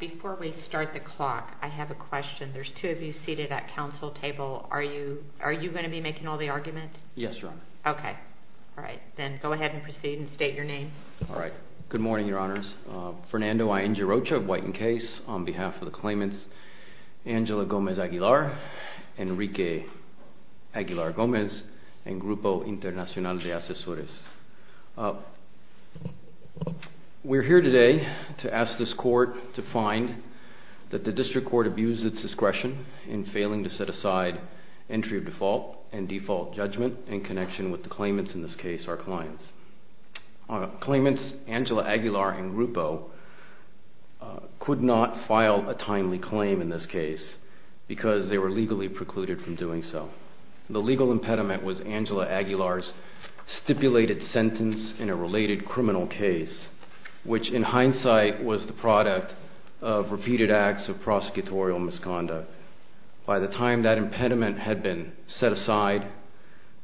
Before we start the clock, I have a question. There's two of you seated at council table. Are you going to be making all the argument? Yes, Your Honor. Okay. All right. Then go ahead and proceed and state your name. All right. Good morning, Your Honors. Fernando I. N. Girocha of White and Case on behalf of the claimants, Angela Gomez Aguilar, Enrique Aguilar Gomez and Grupo Internacional de Asesores. We're here today to ask this court to find that the district court abused its discretion in failing to set aside entry of default and default judgment in connection with the claimants, in this case, our clients. Claimants Angela Aguilar and Grupo could not file a timely claim in this case because they were legally precluded from doing so. The legal impediment was Angela Aguilar's stipulated sentence in a related criminal case, which in hindsight was the product of repeated acts of prosecutorial misconduct. By the time that impediment had been set aside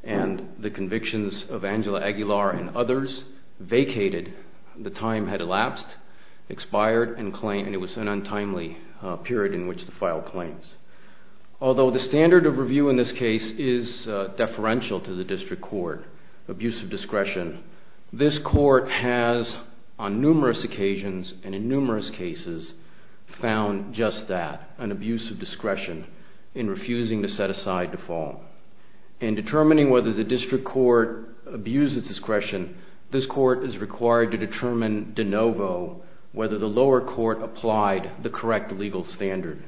and the convictions of Angela Aguilar and others vacated, the time had elapsed, expired, and it was an untimely period in which to file claims. Although the standard of review in this case is deferential to the district court, abuse of discretion, this court has, on numerous occasions and in numerous cases, found just that, an abuse of discretion in refusing to set aside default. In determining whether the district court abused its discretion, this court is required to determine de novo whether the lower court applied the correct legal standard,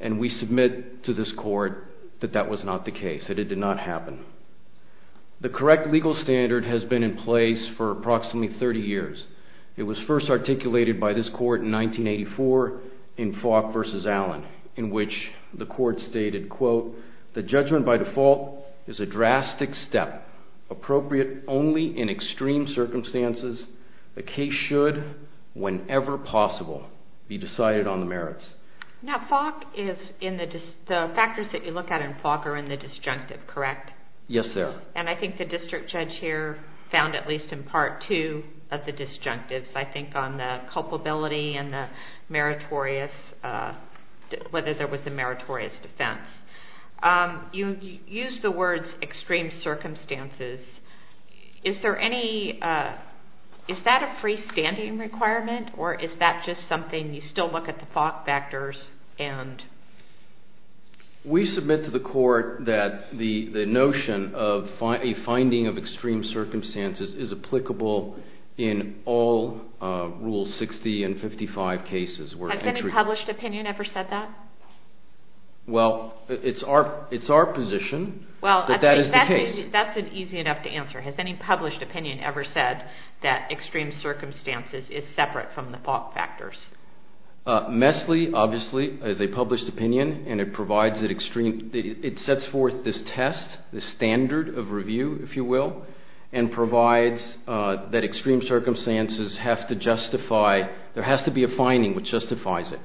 and we submit to this court that that was not the case, that it did not happen. The correct legal standard has been in place for approximately 30 years. It was first articulated by this court in 1984 in Falk versus Allen, in which the court stated, quote, the judgment by default is a drastic step, appropriate only in extreme circumstances. The case should, whenever possible, be decided on the merits. Now, Falk is in the, the factors that you look at in Falk are in the disjunctive, correct? Yes, sir. And I think the district judge here found at least in part two of the disjunctives, I think, on the culpability and the meritorious, whether there was a meritorious defense. You used the words extreme circumstances. Is there any, is that a freestanding requirement, or is that just something you still look at the Falk factors and? We submit to the court that the, the notion of a finding of extreme circumstances is applicable in all rules 60 and 55 cases. Has any published opinion ever said that? Well, it's our, it's our position that that is the case. That's an easy enough to answer. Has any published opinion ever said that extreme circumstances is separate from the Falk factors? Messley, obviously, is a published opinion, and it provides an extreme, it sets forth this test, this standard of review, if you will, and provides that extreme circumstances have to justify, there has to be a finding which justifies it.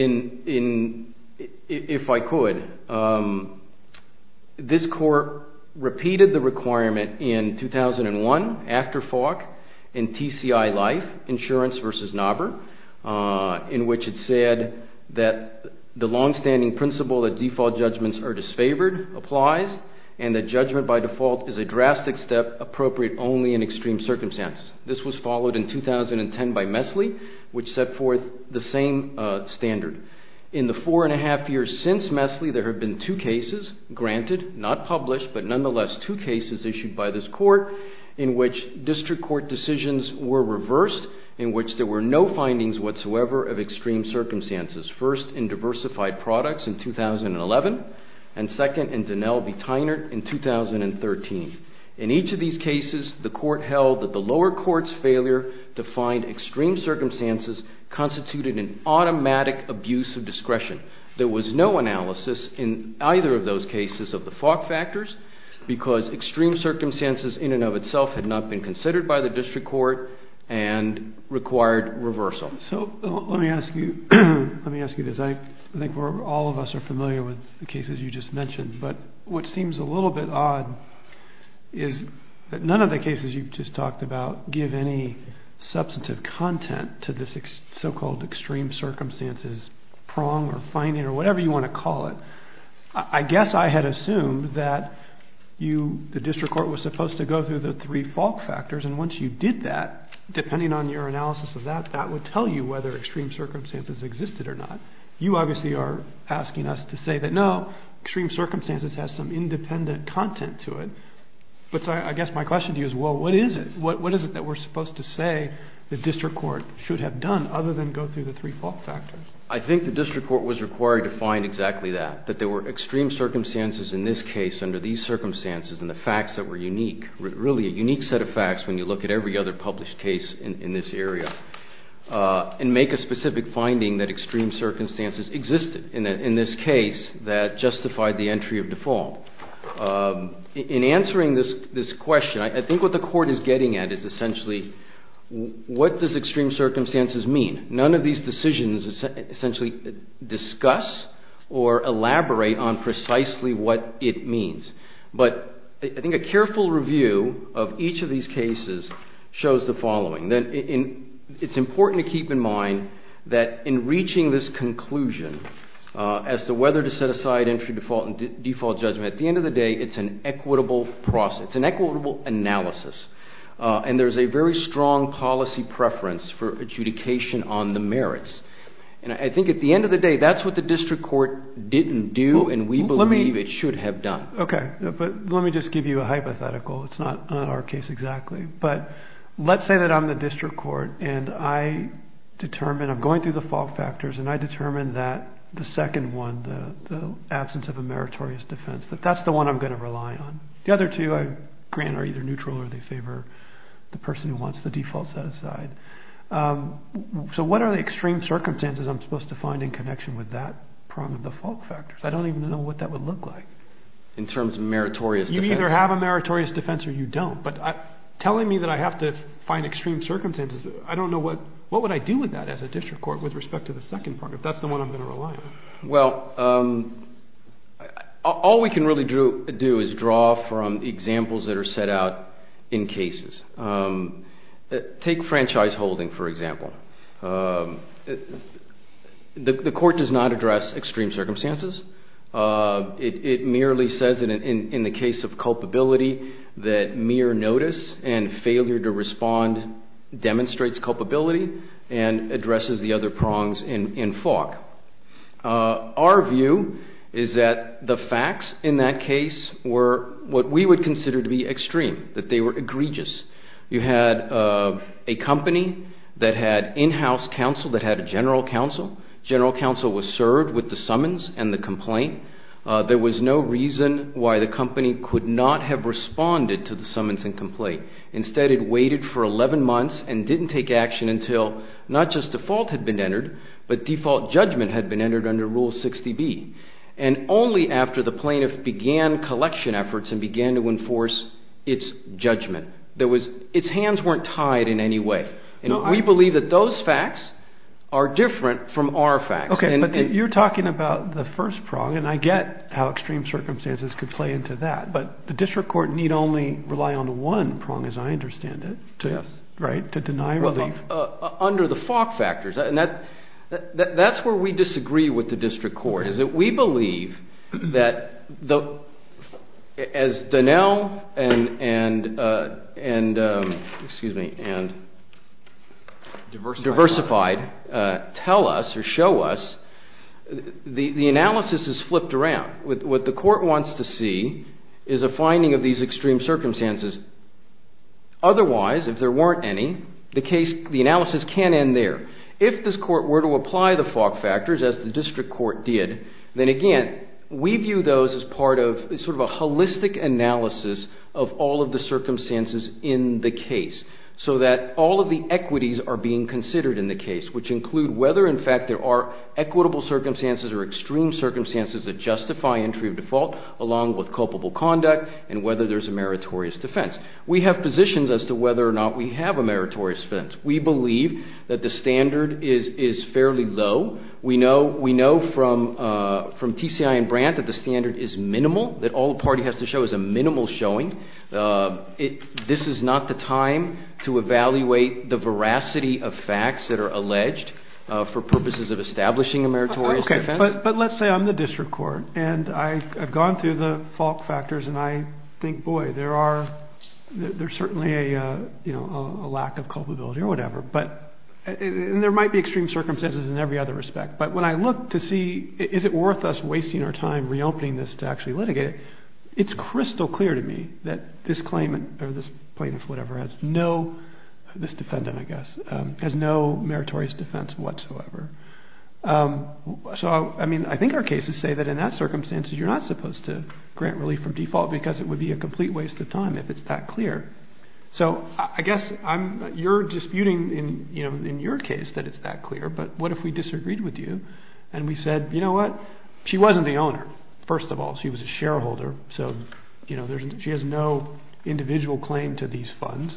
In, in, if I could, this court repeated the requirement in 2001, after Falk, in TCI Life, Insurance versus Knobber, in which it said that the longstanding principle that default judgments are disfavored applies, and that judgment by default is a drastic step appropriate only in extreme circumstances. This was followed in 2010 by Messley, which set forth the same standard. In the four and a half years since Messley, there have been two cases granted, not published, but nonetheless, two cases issued by this court in which district court decisions were reversed, in which there were no findings whatsoever of extreme circumstances. First, in Diversified Products in 2011, and second, in Donnell v. Tynert in 2013. In each of these cases, the court held that the lower court's failure to find extreme circumstances constituted an automatic abuse of discretion. There was no analysis in either of those cases of the Falk factors, because extreme circumstances, in and of itself, had not been considered by the district court and required reversal. So, let me ask you, let me ask you this. I think we're, all of us are familiar with the cases you just mentioned, but what seems a little bit odd is that none of the cases you've just talked about give any substantive content to this so-called extreme circumstances prong or finding, or whatever you want to call it. I guess I had assumed that you, the district court, was supposed to go through the three Falk factors, and once you did that, depending on your analysis of that, that would tell you whether extreme circumstances existed or not. You obviously are asking us to say that, no, extreme circumstances has some independent content to it. But I guess my question to you is, well, what is it? What is it that we're supposed to say the district court should have done, other than go through the three Falk factors? I think the district court was required to find exactly that, that there were extreme circumstances in this case under these circumstances, and the facts that were unique, really a unique set of facts when you look at every other published case in this area, and make a specific finding that extreme circumstances existed in this case that justified the entry of default. In answering this question, I think what the court is getting at is essentially, what does extreme circumstances mean? None of these decisions essentially discuss or elaborate on precisely what it means. But I think a careful review of each of these cases shows the following. It's important to keep in mind that in reaching this conclusion as to whether to set aside entry default and default judgment, at the end of the day, it's an equitable process, it's an equitable analysis, and there's a very strong policy preference for adjudication on the merits, and I think at the end of the day, that's what the district court didn't do, and we believe it should have done. Okay, but let me just give you a hypothetical. It's not our case exactly, but let's say that I'm the district court, and I determine, I'm going through the Falk factors, and I determine that the second one, the absence of a meritorious defense, that that's the one I'm going to rely on. The other two, I grant, are either neutral or they favor the person who wants the default set aside. So what are the extreme circumstances I'm supposed to find in connection with that problem, the Falk factors? I don't even know what that would look like. In terms of meritorious defense? You either have a meritorious defense or you don't, but telling me that I have to find extreme circumstances, I don't know what, what would I do with that as a district court with respect to the second part, if that's the one I'm going to rely on? Well, all we can really do is draw from examples that are set out in cases. Take franchise holding, for example. The court does not address extreme circumstances. It merely says that in the case of culpability, that mere notice and failure to respond demonstrates culpability and addresses the other prongs in Falk. Our view is that the facts in that case were what we would consider to be extreme, that they were egregious. You had a company that had in-house counsel that had a general counsel. General counsel was served with the summons and the complaint. There was no reason why the company could not have responded to the summons and complaint. Instead, it waited for 11 months and didn't take action until not just default had been entered, but default judgment had been entered under Rule 60B. And only after the plaintiff began collection efforts and began to enforce its judgment, its hands weren't tied in any way. And we believe that those facts are different from our facts. Okay, but you're talking about the first prong, and I get how extreme circumstances could play into that, but the district court need only rely on one prong, as I understand it, right, to deny relief. Well, under the Falk factors, and that's where we disagree with the district court, is that we believe that as Donnell and, excuse me, and Diversified tell us or show us the analysis is flipped around. What the court wants to see is a finding of these extreme circumstances. Otherwise, if there weren't any, the analysis can't end there. If this court were to apply the Falk factors, as the district court did, then again, we view those as part of, sort of a holistic analysis of all of the circumstances in the case, so that all of the equities are being considered in the case, which include whether, in fact, there are equitable circumstances or extreme circumstances that justify entry of default along with culpable conduct and whether there's a meritorious defense. We have positions as to whether or not we have a meritorious defense. We believe that the standard is fairly low. We know from TCI and Brandt that the standard is minimal, that all the party has to show is a minimal showing. This is not the time to evaluate the veracity of facts that are alleged for purposes of establishing a meritorious defense. Okay. But let's say I'm the district court, and I've gone through the Falk factors, and I think, boy, there's certainly a lack of culpability or whatever. But, and there might be extreme circumstances in every other respect, but when I look to see, is it worth us wasting our time reopening this to actually litigate it, it's crystal clear to me that this claimant or this plaintiff, whatever, has no, this defendant, I guess, has no meritorious defense whatsoever. So, I mean, I think our cases say that in that circumstance, you're not supposed to grant relief from default because it would be a complete waste of time if it's that clear. So I guess I'm, you're disputing in, you know, in your case that it's that clear, but what if we disagreed with you and we said, you know what, she wasn't the owner, first of all, she was a shareholder, so, you know, there's, she has no individual claim to these funds.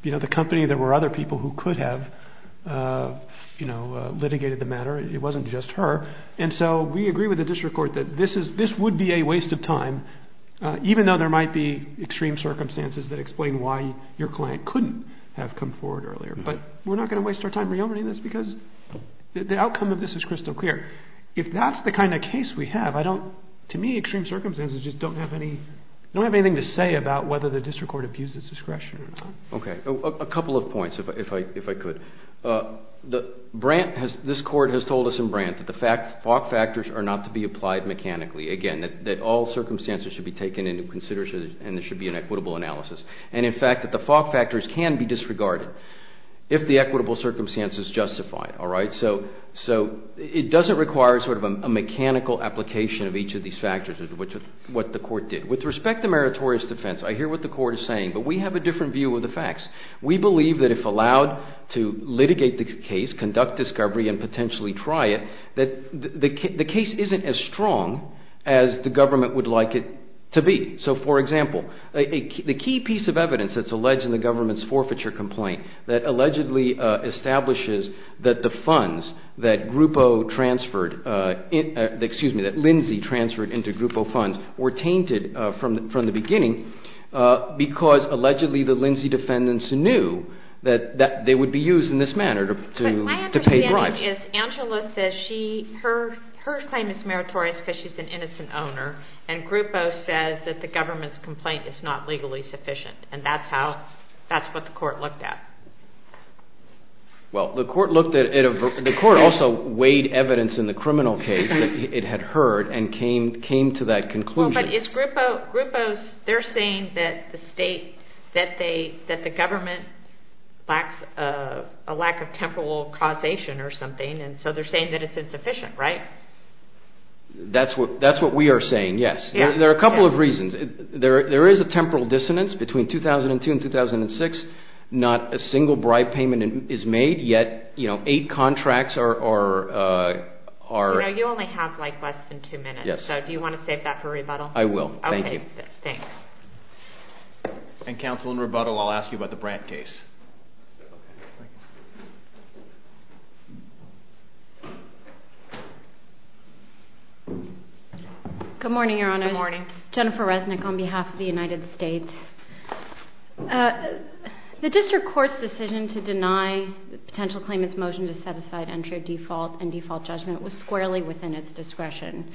You know, the company, there were other people who could have, you know, litigated the matter. It wasn't just her, and so we agree with the district court that this is, this would be a waste of time, even though there might be extreme circumstances that explain why your client couldn't have come forward earlier, but we're not going to waste our time reopening this because the outcome of this is crystal clear. If that's the kind of case we have, I don't, to me extreme circumstances just don't have any, don't have anything to say about whether the district court abuses discretion or not. Okay. A couple of points, if I could. The, Brant has, this court has told us in Brant that the FOC factors are not to be applied mechanically. Again, that all circumstances should be taken into consideration and there should be an equitable analysis. And in fact, that the FOC factors can be disregarded if the equitable circumstance is justified, all right? So, so it doesn't require sort of a mechanical application of each of these factors, which is what the court did. With respect to meritorious defense, I hear what the court is saying, but we have a different view of the facts. We believe that if allowed to litigate the case, conduct discovery, and potentially try it, that the case isn't as strong as the government would like it to be. So for example, the key piece of evidence that's alleged in the government's forfeiture complaint that allegedly establishes that the funds that Grupo transferred, excuse me, that Lindsay transferred into Grupo funds were tainted from the beginning because allegedly, the Lindsay defendants knew that they would be used in this manner to pay bribes. But my understanding is Angela says she, her claim is meritorious because she's an innocent owner and Grupo says that the government's complaint is not legally sufficient and that's how, that's what the court looked at. Well, the court looked at, the court also weighed evidence in the criminal case that it had heard and came to that conclusion. Well, but is Grupo, Grupo's, they're saying that the state, that they, that the government lacks a lack of temporal causation or something and so they're saying that it's insufficient, right? That's what, that's what we are saying, yes. There are a couple of reasons. There is a temporal dissonance between 2002 and 2006, not a single bribe payment is made, yet, you know, eight contracts are, are, are. You know, you only have like less than two minutes. Yes. So do you want to save that for rebuttal? I will, thank you. Okay, thanks. And counsel in rebuttal, I'll ask you about the Brandt case. Good morning, Your Honor. Good morning. Jennifer Resnick on behalf of the United States. The district court's decision to deny the potential claimant's motion to set aside entry of default and default judgment was squarely within its discretion.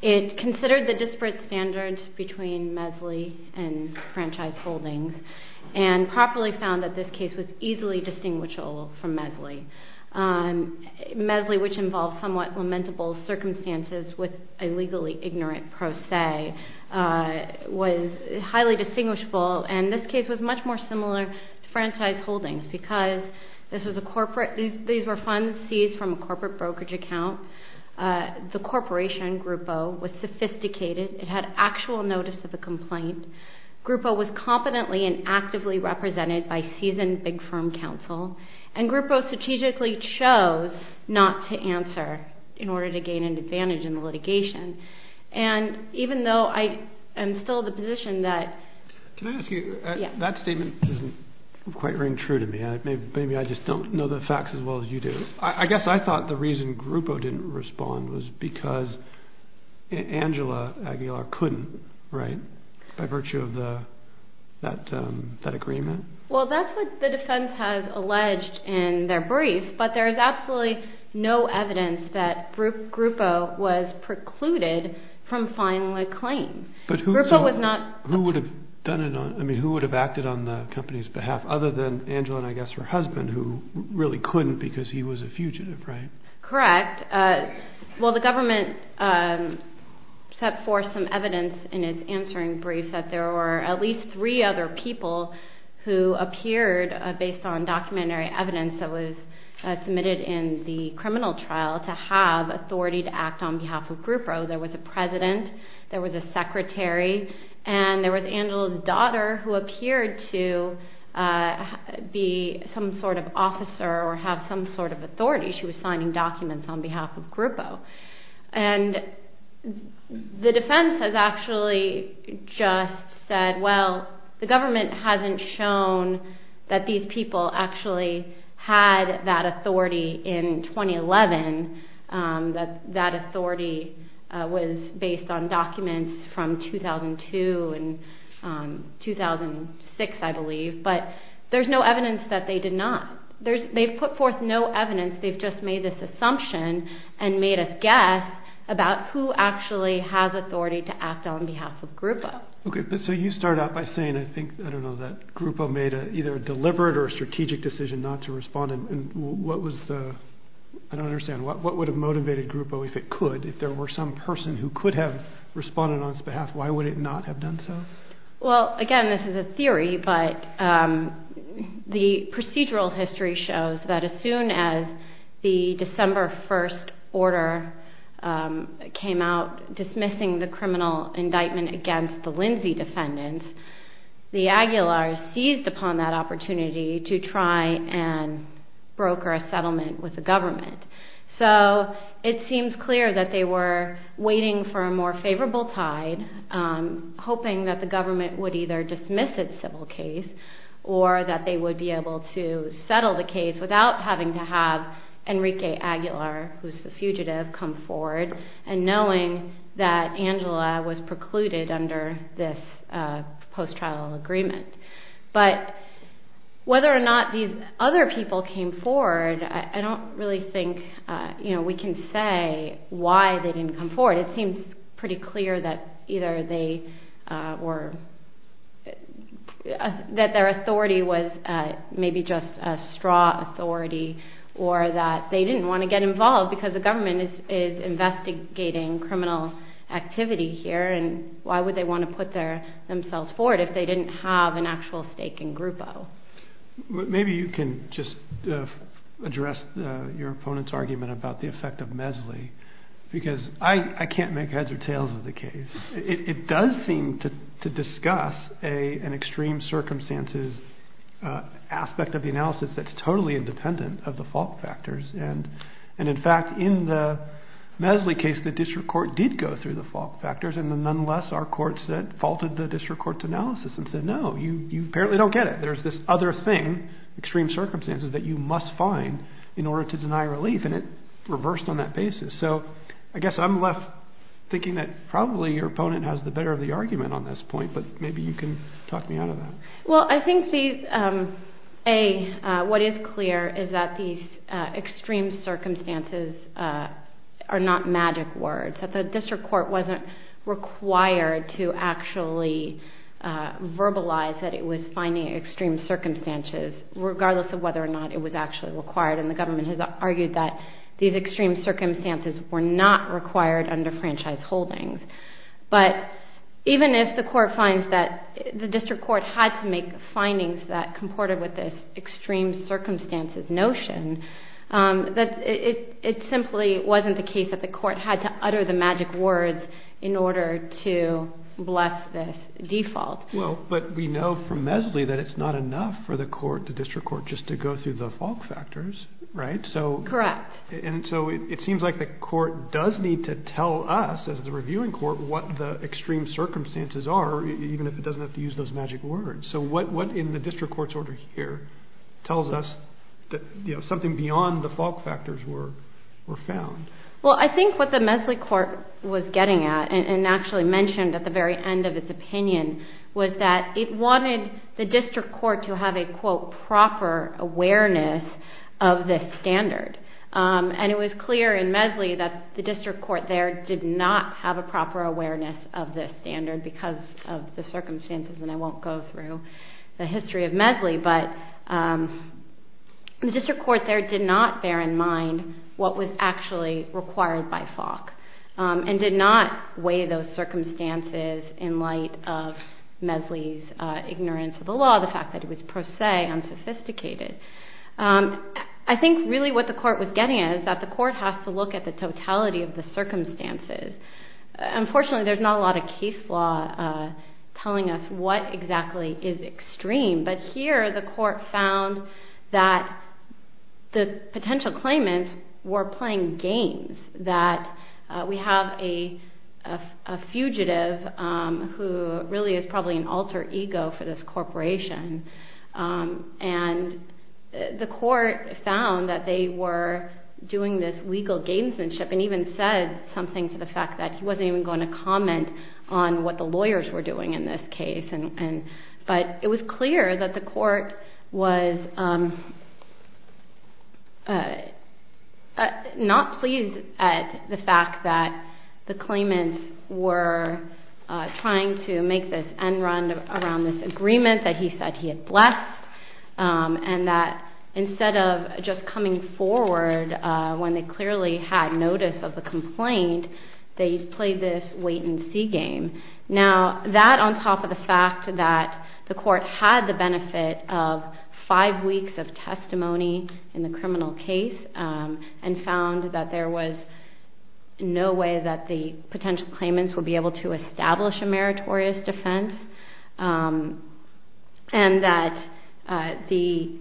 It considered the disparate standards between Mesley and franchise holdings and properly found that this case was easily distinguishable from Mesley. Mesley, which involved somewhat lamentable circumstances with a legally ignorant pro se, was highly distinguishable. And this case was much more similar to franchise holdings because this was a corporate, these, these were funds seized from a corporate brokerage account. The corporation, Grupo, was sophisticated. It had actual notice of the complaint. Grupo was competently and actively represented by seasoned big firm counsel. And Grupo strategically chose not to answer in order to gain an advantage in the litigation. And even though I am still in the position that. Can I ask you, that statement doesn't quite ring true to me. Maybe I just don't know the facts as well as you do. I guess I thought the reason Grupo didn't respond was because Angela Aguilar couldn't, right, by virtue of the, that, that agreement? Well, that's what the defense has alleged in their briefs. But there is absolutely no evidence that Grupo was precluded from filing a claim. But Grupo was not. Who would have done it on, I mean, who would have acted on the company's behalf other than Angela and I guess her husband who really couldn't because he was a fugitive, right? Correct. Well, the government set forth some evidence in its answering brief that there were at least three other people who appeared based on documentary evidence that was submitted in the criminal trial to have authority to act on behalf of Grupo. There was a president, there was a secretary, and there was Angela's daughter who appeared to be some sort of officer or have some sort of authority. She was signing documents on behalf of Grupo. And the defense has actually just said, well, the government hasn't shown that these people actually had that authority in 2011, that that authority was based on documents from 2002 and 2006, I believe, but there's no evidence that they did not. There's, they've put forth no evidence. They've just made this assumption and made us guess about who actually has authority to act on behalf of Grupo. Okay, but so you start out by saying, I think, I don't know, that Grupo made either a deliberate or a strategic decision not to respond. And what was the, I don't understand, what would have motivated Grupo if it could, if there were some person who could have responded on its behalf, why would it not have done so? Well, again, this is a theory, but the procedural history shows that as soon as the December 1st order came out dismissing the criminal indictment against the Lindsay defendants, the Aguilar's seized upon that opportunity to try and broker a settlement with the government. So it seems clear that they were waiting for a more favorable tide, hoping that the government would either dismiss its civil case or that they would be able to settle the case without having to have Enrique Aguilar, who's the fugitive, come forward and knowing that Angela was precluded under this post-trial agreement. But whether or not these other people came forward, I don't really think, you know, we can say why they didn't come forward. It seems pretty clear that either they were, that their authority was maybe just a straw authority or that they didn't want to get involved because the government is investigating criminal activity here and why would they want to put themselves forward if they didn't have an actual stake in Grupo. Maybe you can just address your opponent's argument about the effect of Mesley, because I can't make heads or tails of the case. It does seem to discuss an extreme circumstances aspect of the analysis that's totally independent of the fault factors. And in fact, in the Mesley case, the district court did go through the fault factors and nonetheless, our court faulted the district court's analysis and said, no, you apparently don't get it. There's this other thing, extreme circumstances, that you must find in order to deny relief and it reversed on that basis. So I guess I'm left thinking that probably your opponent has the better of the argument on this point, but maybe you can talk me out of that. Well, I think these, A, what is clear is that these extreme circumstances are not magic words, that the district court wasn't required to actually verbalize that it was finding extreme circumstances regardless of whether or not it was actually required and the government has argued that these extreme circumstances were not required under franchise holdings. But even if the court finds that the district court had to make findings that comported with this extreme circumstances notion, that it simply wasn't the case that the court had to utter the magic words in order to bless this default. Well, but we know from Mesley that it's not enough for the court, the district court, just to go through the fault factors, right? So. Correct. And so it seems like the court does need to tell us as the reviewing court what the extreme circumstances are, even if it doesn't have to use those magic words. So what in the district court's order here tells us, you know, something beyond the fault factors were found? Well, I think what the Mesley court was getting at and actually mentioned at the very end of its opinion was that it wanted the district court to have a, quote, proper awareness of this standard. And it was clear in Mesley that the district court there did not have a proper awareness of this standard because of the circumstances. And I won't go through the history of Mesley, but the district court there did not bear in mind what was actually required by Falk and did not weigh those circumstances in light of Mesley's ignorance of the law, the fact that it was per se unsophisticated. I think really what the court was getting at is that the court has to look at the totality of the circumstances. Unfortunately, there's not a lot of case law telling us what exactly is extreme, but here the court found that the potential claimants were playing games, that we have a fugitive who really is probably an alter ego for this corporation, and the court found that they were doing this legal gamesmanship and even said something to the fact that he wasn't even going to comment on what the lawyers were doing in this case. But it was clear that the court was not pleased at the fact that the claimants were trying to make this end run around this agreement that he said he had blessed and that instead of just coming forward when they clearly had notice of the complaint, they played this wait and see game. Now, that on top of the fact that the court had the benefit of five weeks of testimony in the criminal case and found that there was no way that the potential claimants would be able to establish a meritorious defense and that the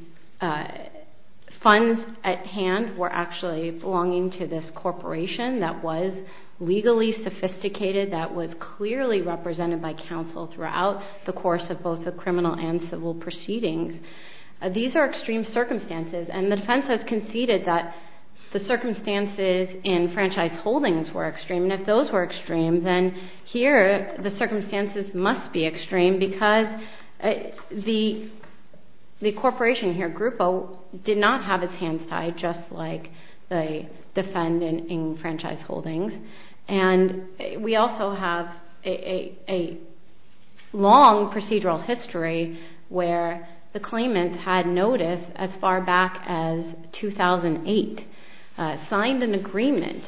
funds at hand were actually belonging to this corporation that was legally sophisticated, that was clearly represented by counsel throughout the course of both the criminal and civil proceedings. These are extreme circumstances and the defense has conceded that the circumstances in franchise holdings were extreme and if those were extreme, then here the circumstances must be extreme because the corporation here, the group did not have its hands tied just like the defendant in franchise holdings. And we also have a long procedural history where the claimants had notice as far back as 2008, signed an agreement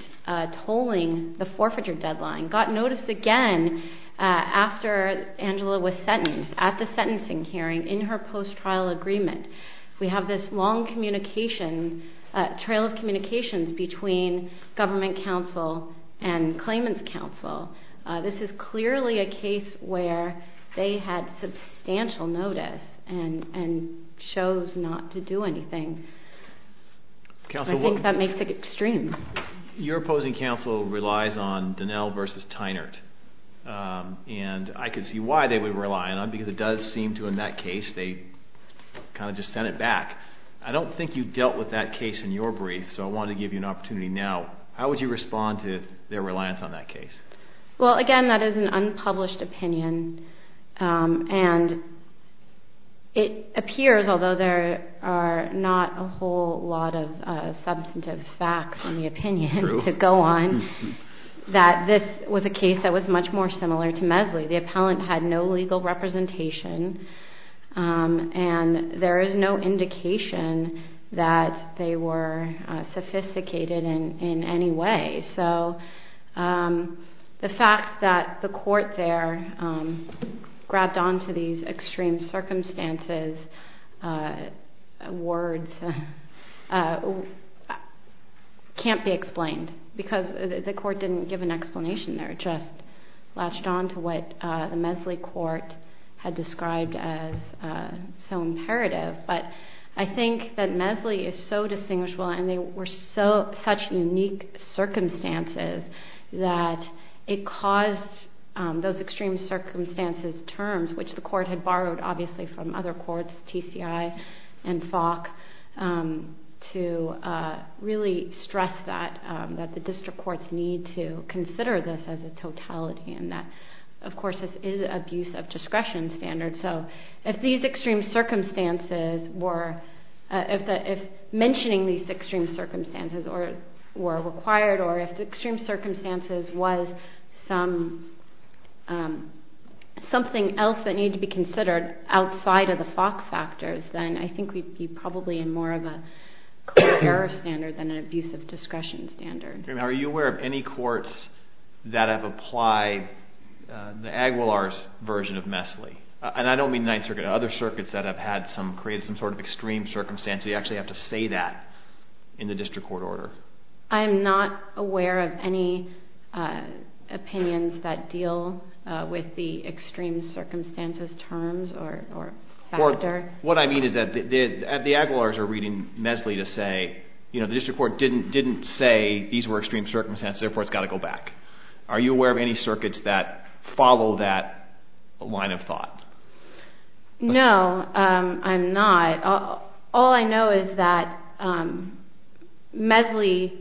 tolling the forfeiture deadline, got notice again after Angela was sentenced at the sentencing hearing in her post-trial agreement. We have this long communication, trail of communications between government counsel and claimant's counsel. This is clearly a case where they had substantial notice and chose not to do anything. I think that makes it extreme. Your opposing counsel relies on Dinell versus Tynert and I could see why they would rely on them because it does seem to in that case, they kind of just sent it back. I don't think you dealt with that case in your brief so I wanted to give you an opportunity now. How would you respond to their reliance on that case? Well again, that is an unpublished opinion and it appears although there are not a whole lot of substantive facts in the opinion to go on, that this was a case that was much more similar to Mesley. The appellant had no legal representation and there is no indication that they were sophisticated in any way. So the fact that the court there grabbed on to these extreme circumstances words can't be explained because the court didn't give an explanation. It just latched on to what the Mesley court had described as so imperative but I think that Mesley is so distinguishable and they were such unique circumstances that it caused those extreme circumstances terms which the court had borrowed obviously from other courts, TCI and Falk, to really stress that the district courts need to consider this as a totality and that of course this is abuse of discretion standard so if these extreme circumstances were, if mentioning these extreme circumstances were required or if the extreme circumstances was something else that needed to be considered outside of the Falk factors, then I think we'd be probably in more of a core error standard than an abuse of discretion standard. Are you aware of any courts that have applied the Aguilar's version of Mesley? And I don't mean Ninth Circuit, other circuits that have had some, created some sort of extreme circumstances, you actually have to say that in the district court order. I'm not aware of any opinions that deal with the extreme circumstances terms or factor. What I mean is that the Aguilar's are reading Mesley to say, you know, the district court didn't say these were extreme circumstances, therefore it's got to go back. Are you aware of any circuits that follow that line of thought? No, I'm not. All I know is that Mesley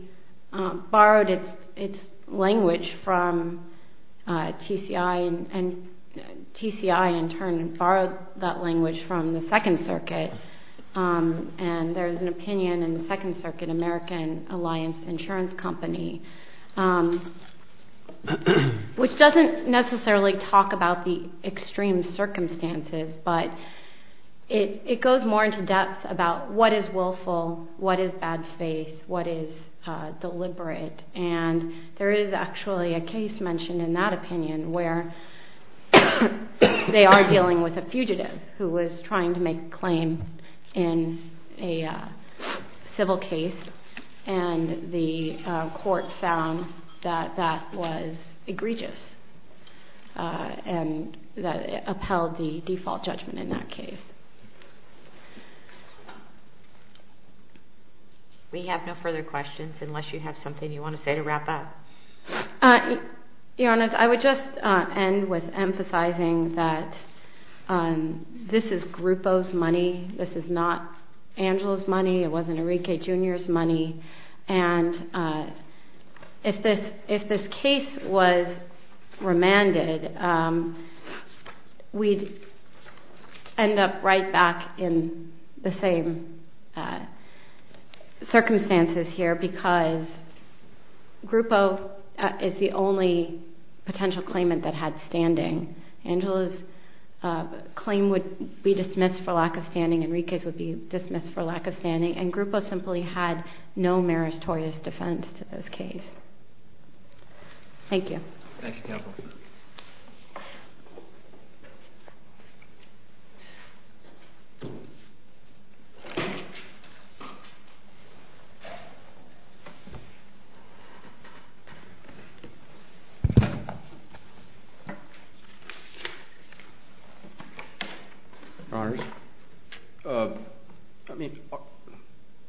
borrowed its language from TCI and TCI in turn borrowed that language from the Second Circuit and there's an opinion in the Second Circuit, American Alliance Insurance Company, which doesn't necessarily talk about the extreme circumstances but it goes more into depth about what is willful, what is bad faith, what is deliberate and there is actually a case mentioned in that opinion where they are dealing with a fugitive who was trying to make a claim in a civil case and the court found that that was egregious and that upheld the default judgment in that case. We have no further questions unless you have something you want to say to wrap up. Your Honor, I would just end with emphasizing that this is Grupo's money, this is not Angela's money, it wasn't Enrique Jr.'s money and if this case was remanded, we'd end up right back in the same circumstances here because Grupo is the only potential claimant that had standing. Angela's claim would be dismissed for lack of standing, Enrique's would be dismissed for lack of standing and Grupo simply had no meritorious defense to this case. Thank you. Thank you counsel. Your Honor, I'm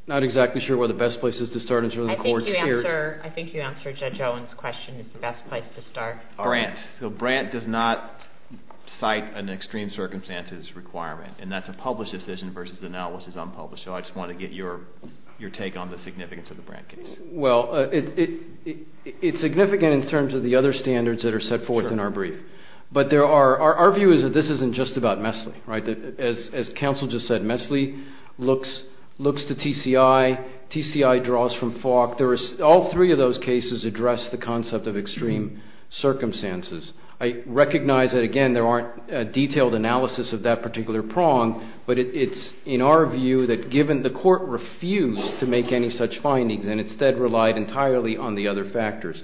not exactly sure where the best place is to start in terms of the court sphere. I think you answered Judge Owen's question, it's the best place to start. Brandt. So Brandt does not cite an extreme circumstances requirement and that's a published decision versus the now which is unpublished. So I just wanted to get your take on the significance of the Brandt case. Well, it's significant in terms of the other standards that are set forth in our brief. But there are, our view is that this isn't just about Mesley, right, as counsel just said, Mesley looks to TCI, TCI draws from Falk. There is, all three of those cases address the concept of extreme circumstances. I recognize that again there aren't detailed analysis of that particular prong, but it's in our view that given the court refused to make any such findings and instead relied entirely on the other factors.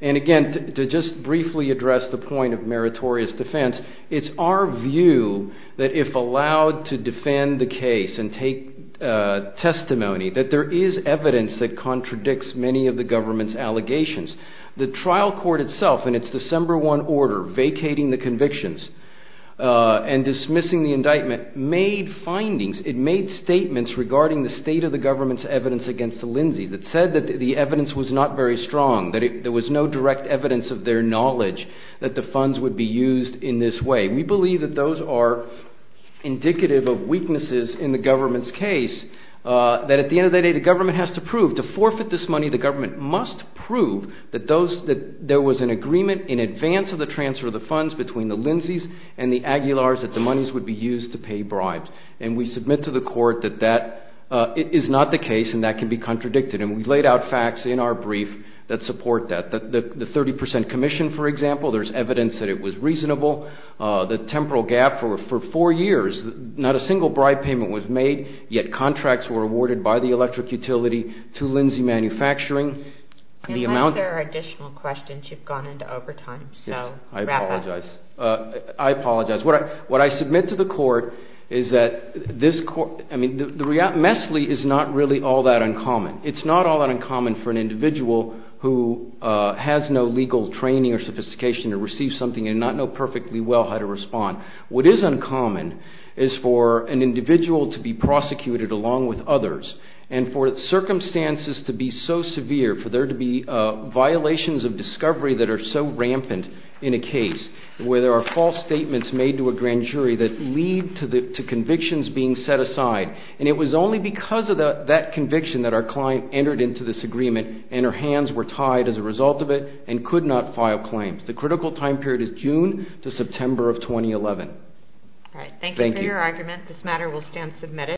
And again, to just briefly address the point of meritorious defense, it's our view that if allowed to defend the case and take testimony, that there is evidence that contradicts many of the government's allegations. The trial court itself in its December 1 order vacating the convictions and dismissing the indictment made findings, it made statements regarding the state of the government's evidence against the Lindsay's. It said that the evidence was not very strong, that there was no direct evidence of their knowledge that the funds would be used in this way. We believe that those are indicative of weaknesses in the government's case, that at the end of the day, the government has to prove, to forfeit this money, the government must prove that those, that there was an agreement in advance of the transfer of the funds between the Lindsay's and the Aguilar's that the monies would be used to pay bribes. And we submit to the court that that is not the case and that can be contradicted. And we've laid out facts in our brief that support that. The 30% commission, for example, there's evidence that it was reasonable. The temporal gap for four years, not a single bribe payment was made, yet contracts were awarded by the electric utility to Lindsay Manufacturing. The amount of... Unless there are additional questions, you've gone into overtime, so wrap up. Yes, I apologize. I apologize. What I submit to the court is that this court, I mean, the MESLI is not really all that uncommon. It's not all that uncommon for an individual who has no legal training or sophistication to receive something and not know perfectly well how to respond. What is uncommon is for an individual to be prosecuted along with others and for circumstances to be so severe, for there to be violations of discovery that are so rampant in a case where there are false statements made to a grand jury that lead to convictions being set aside. And it was only because of that conviction that our client entered into this agreement and her hands were tied as a result of it and could not file claims. The critical time period is June to September of 2011. All right, thank you for your argument. This matter will stand submitted.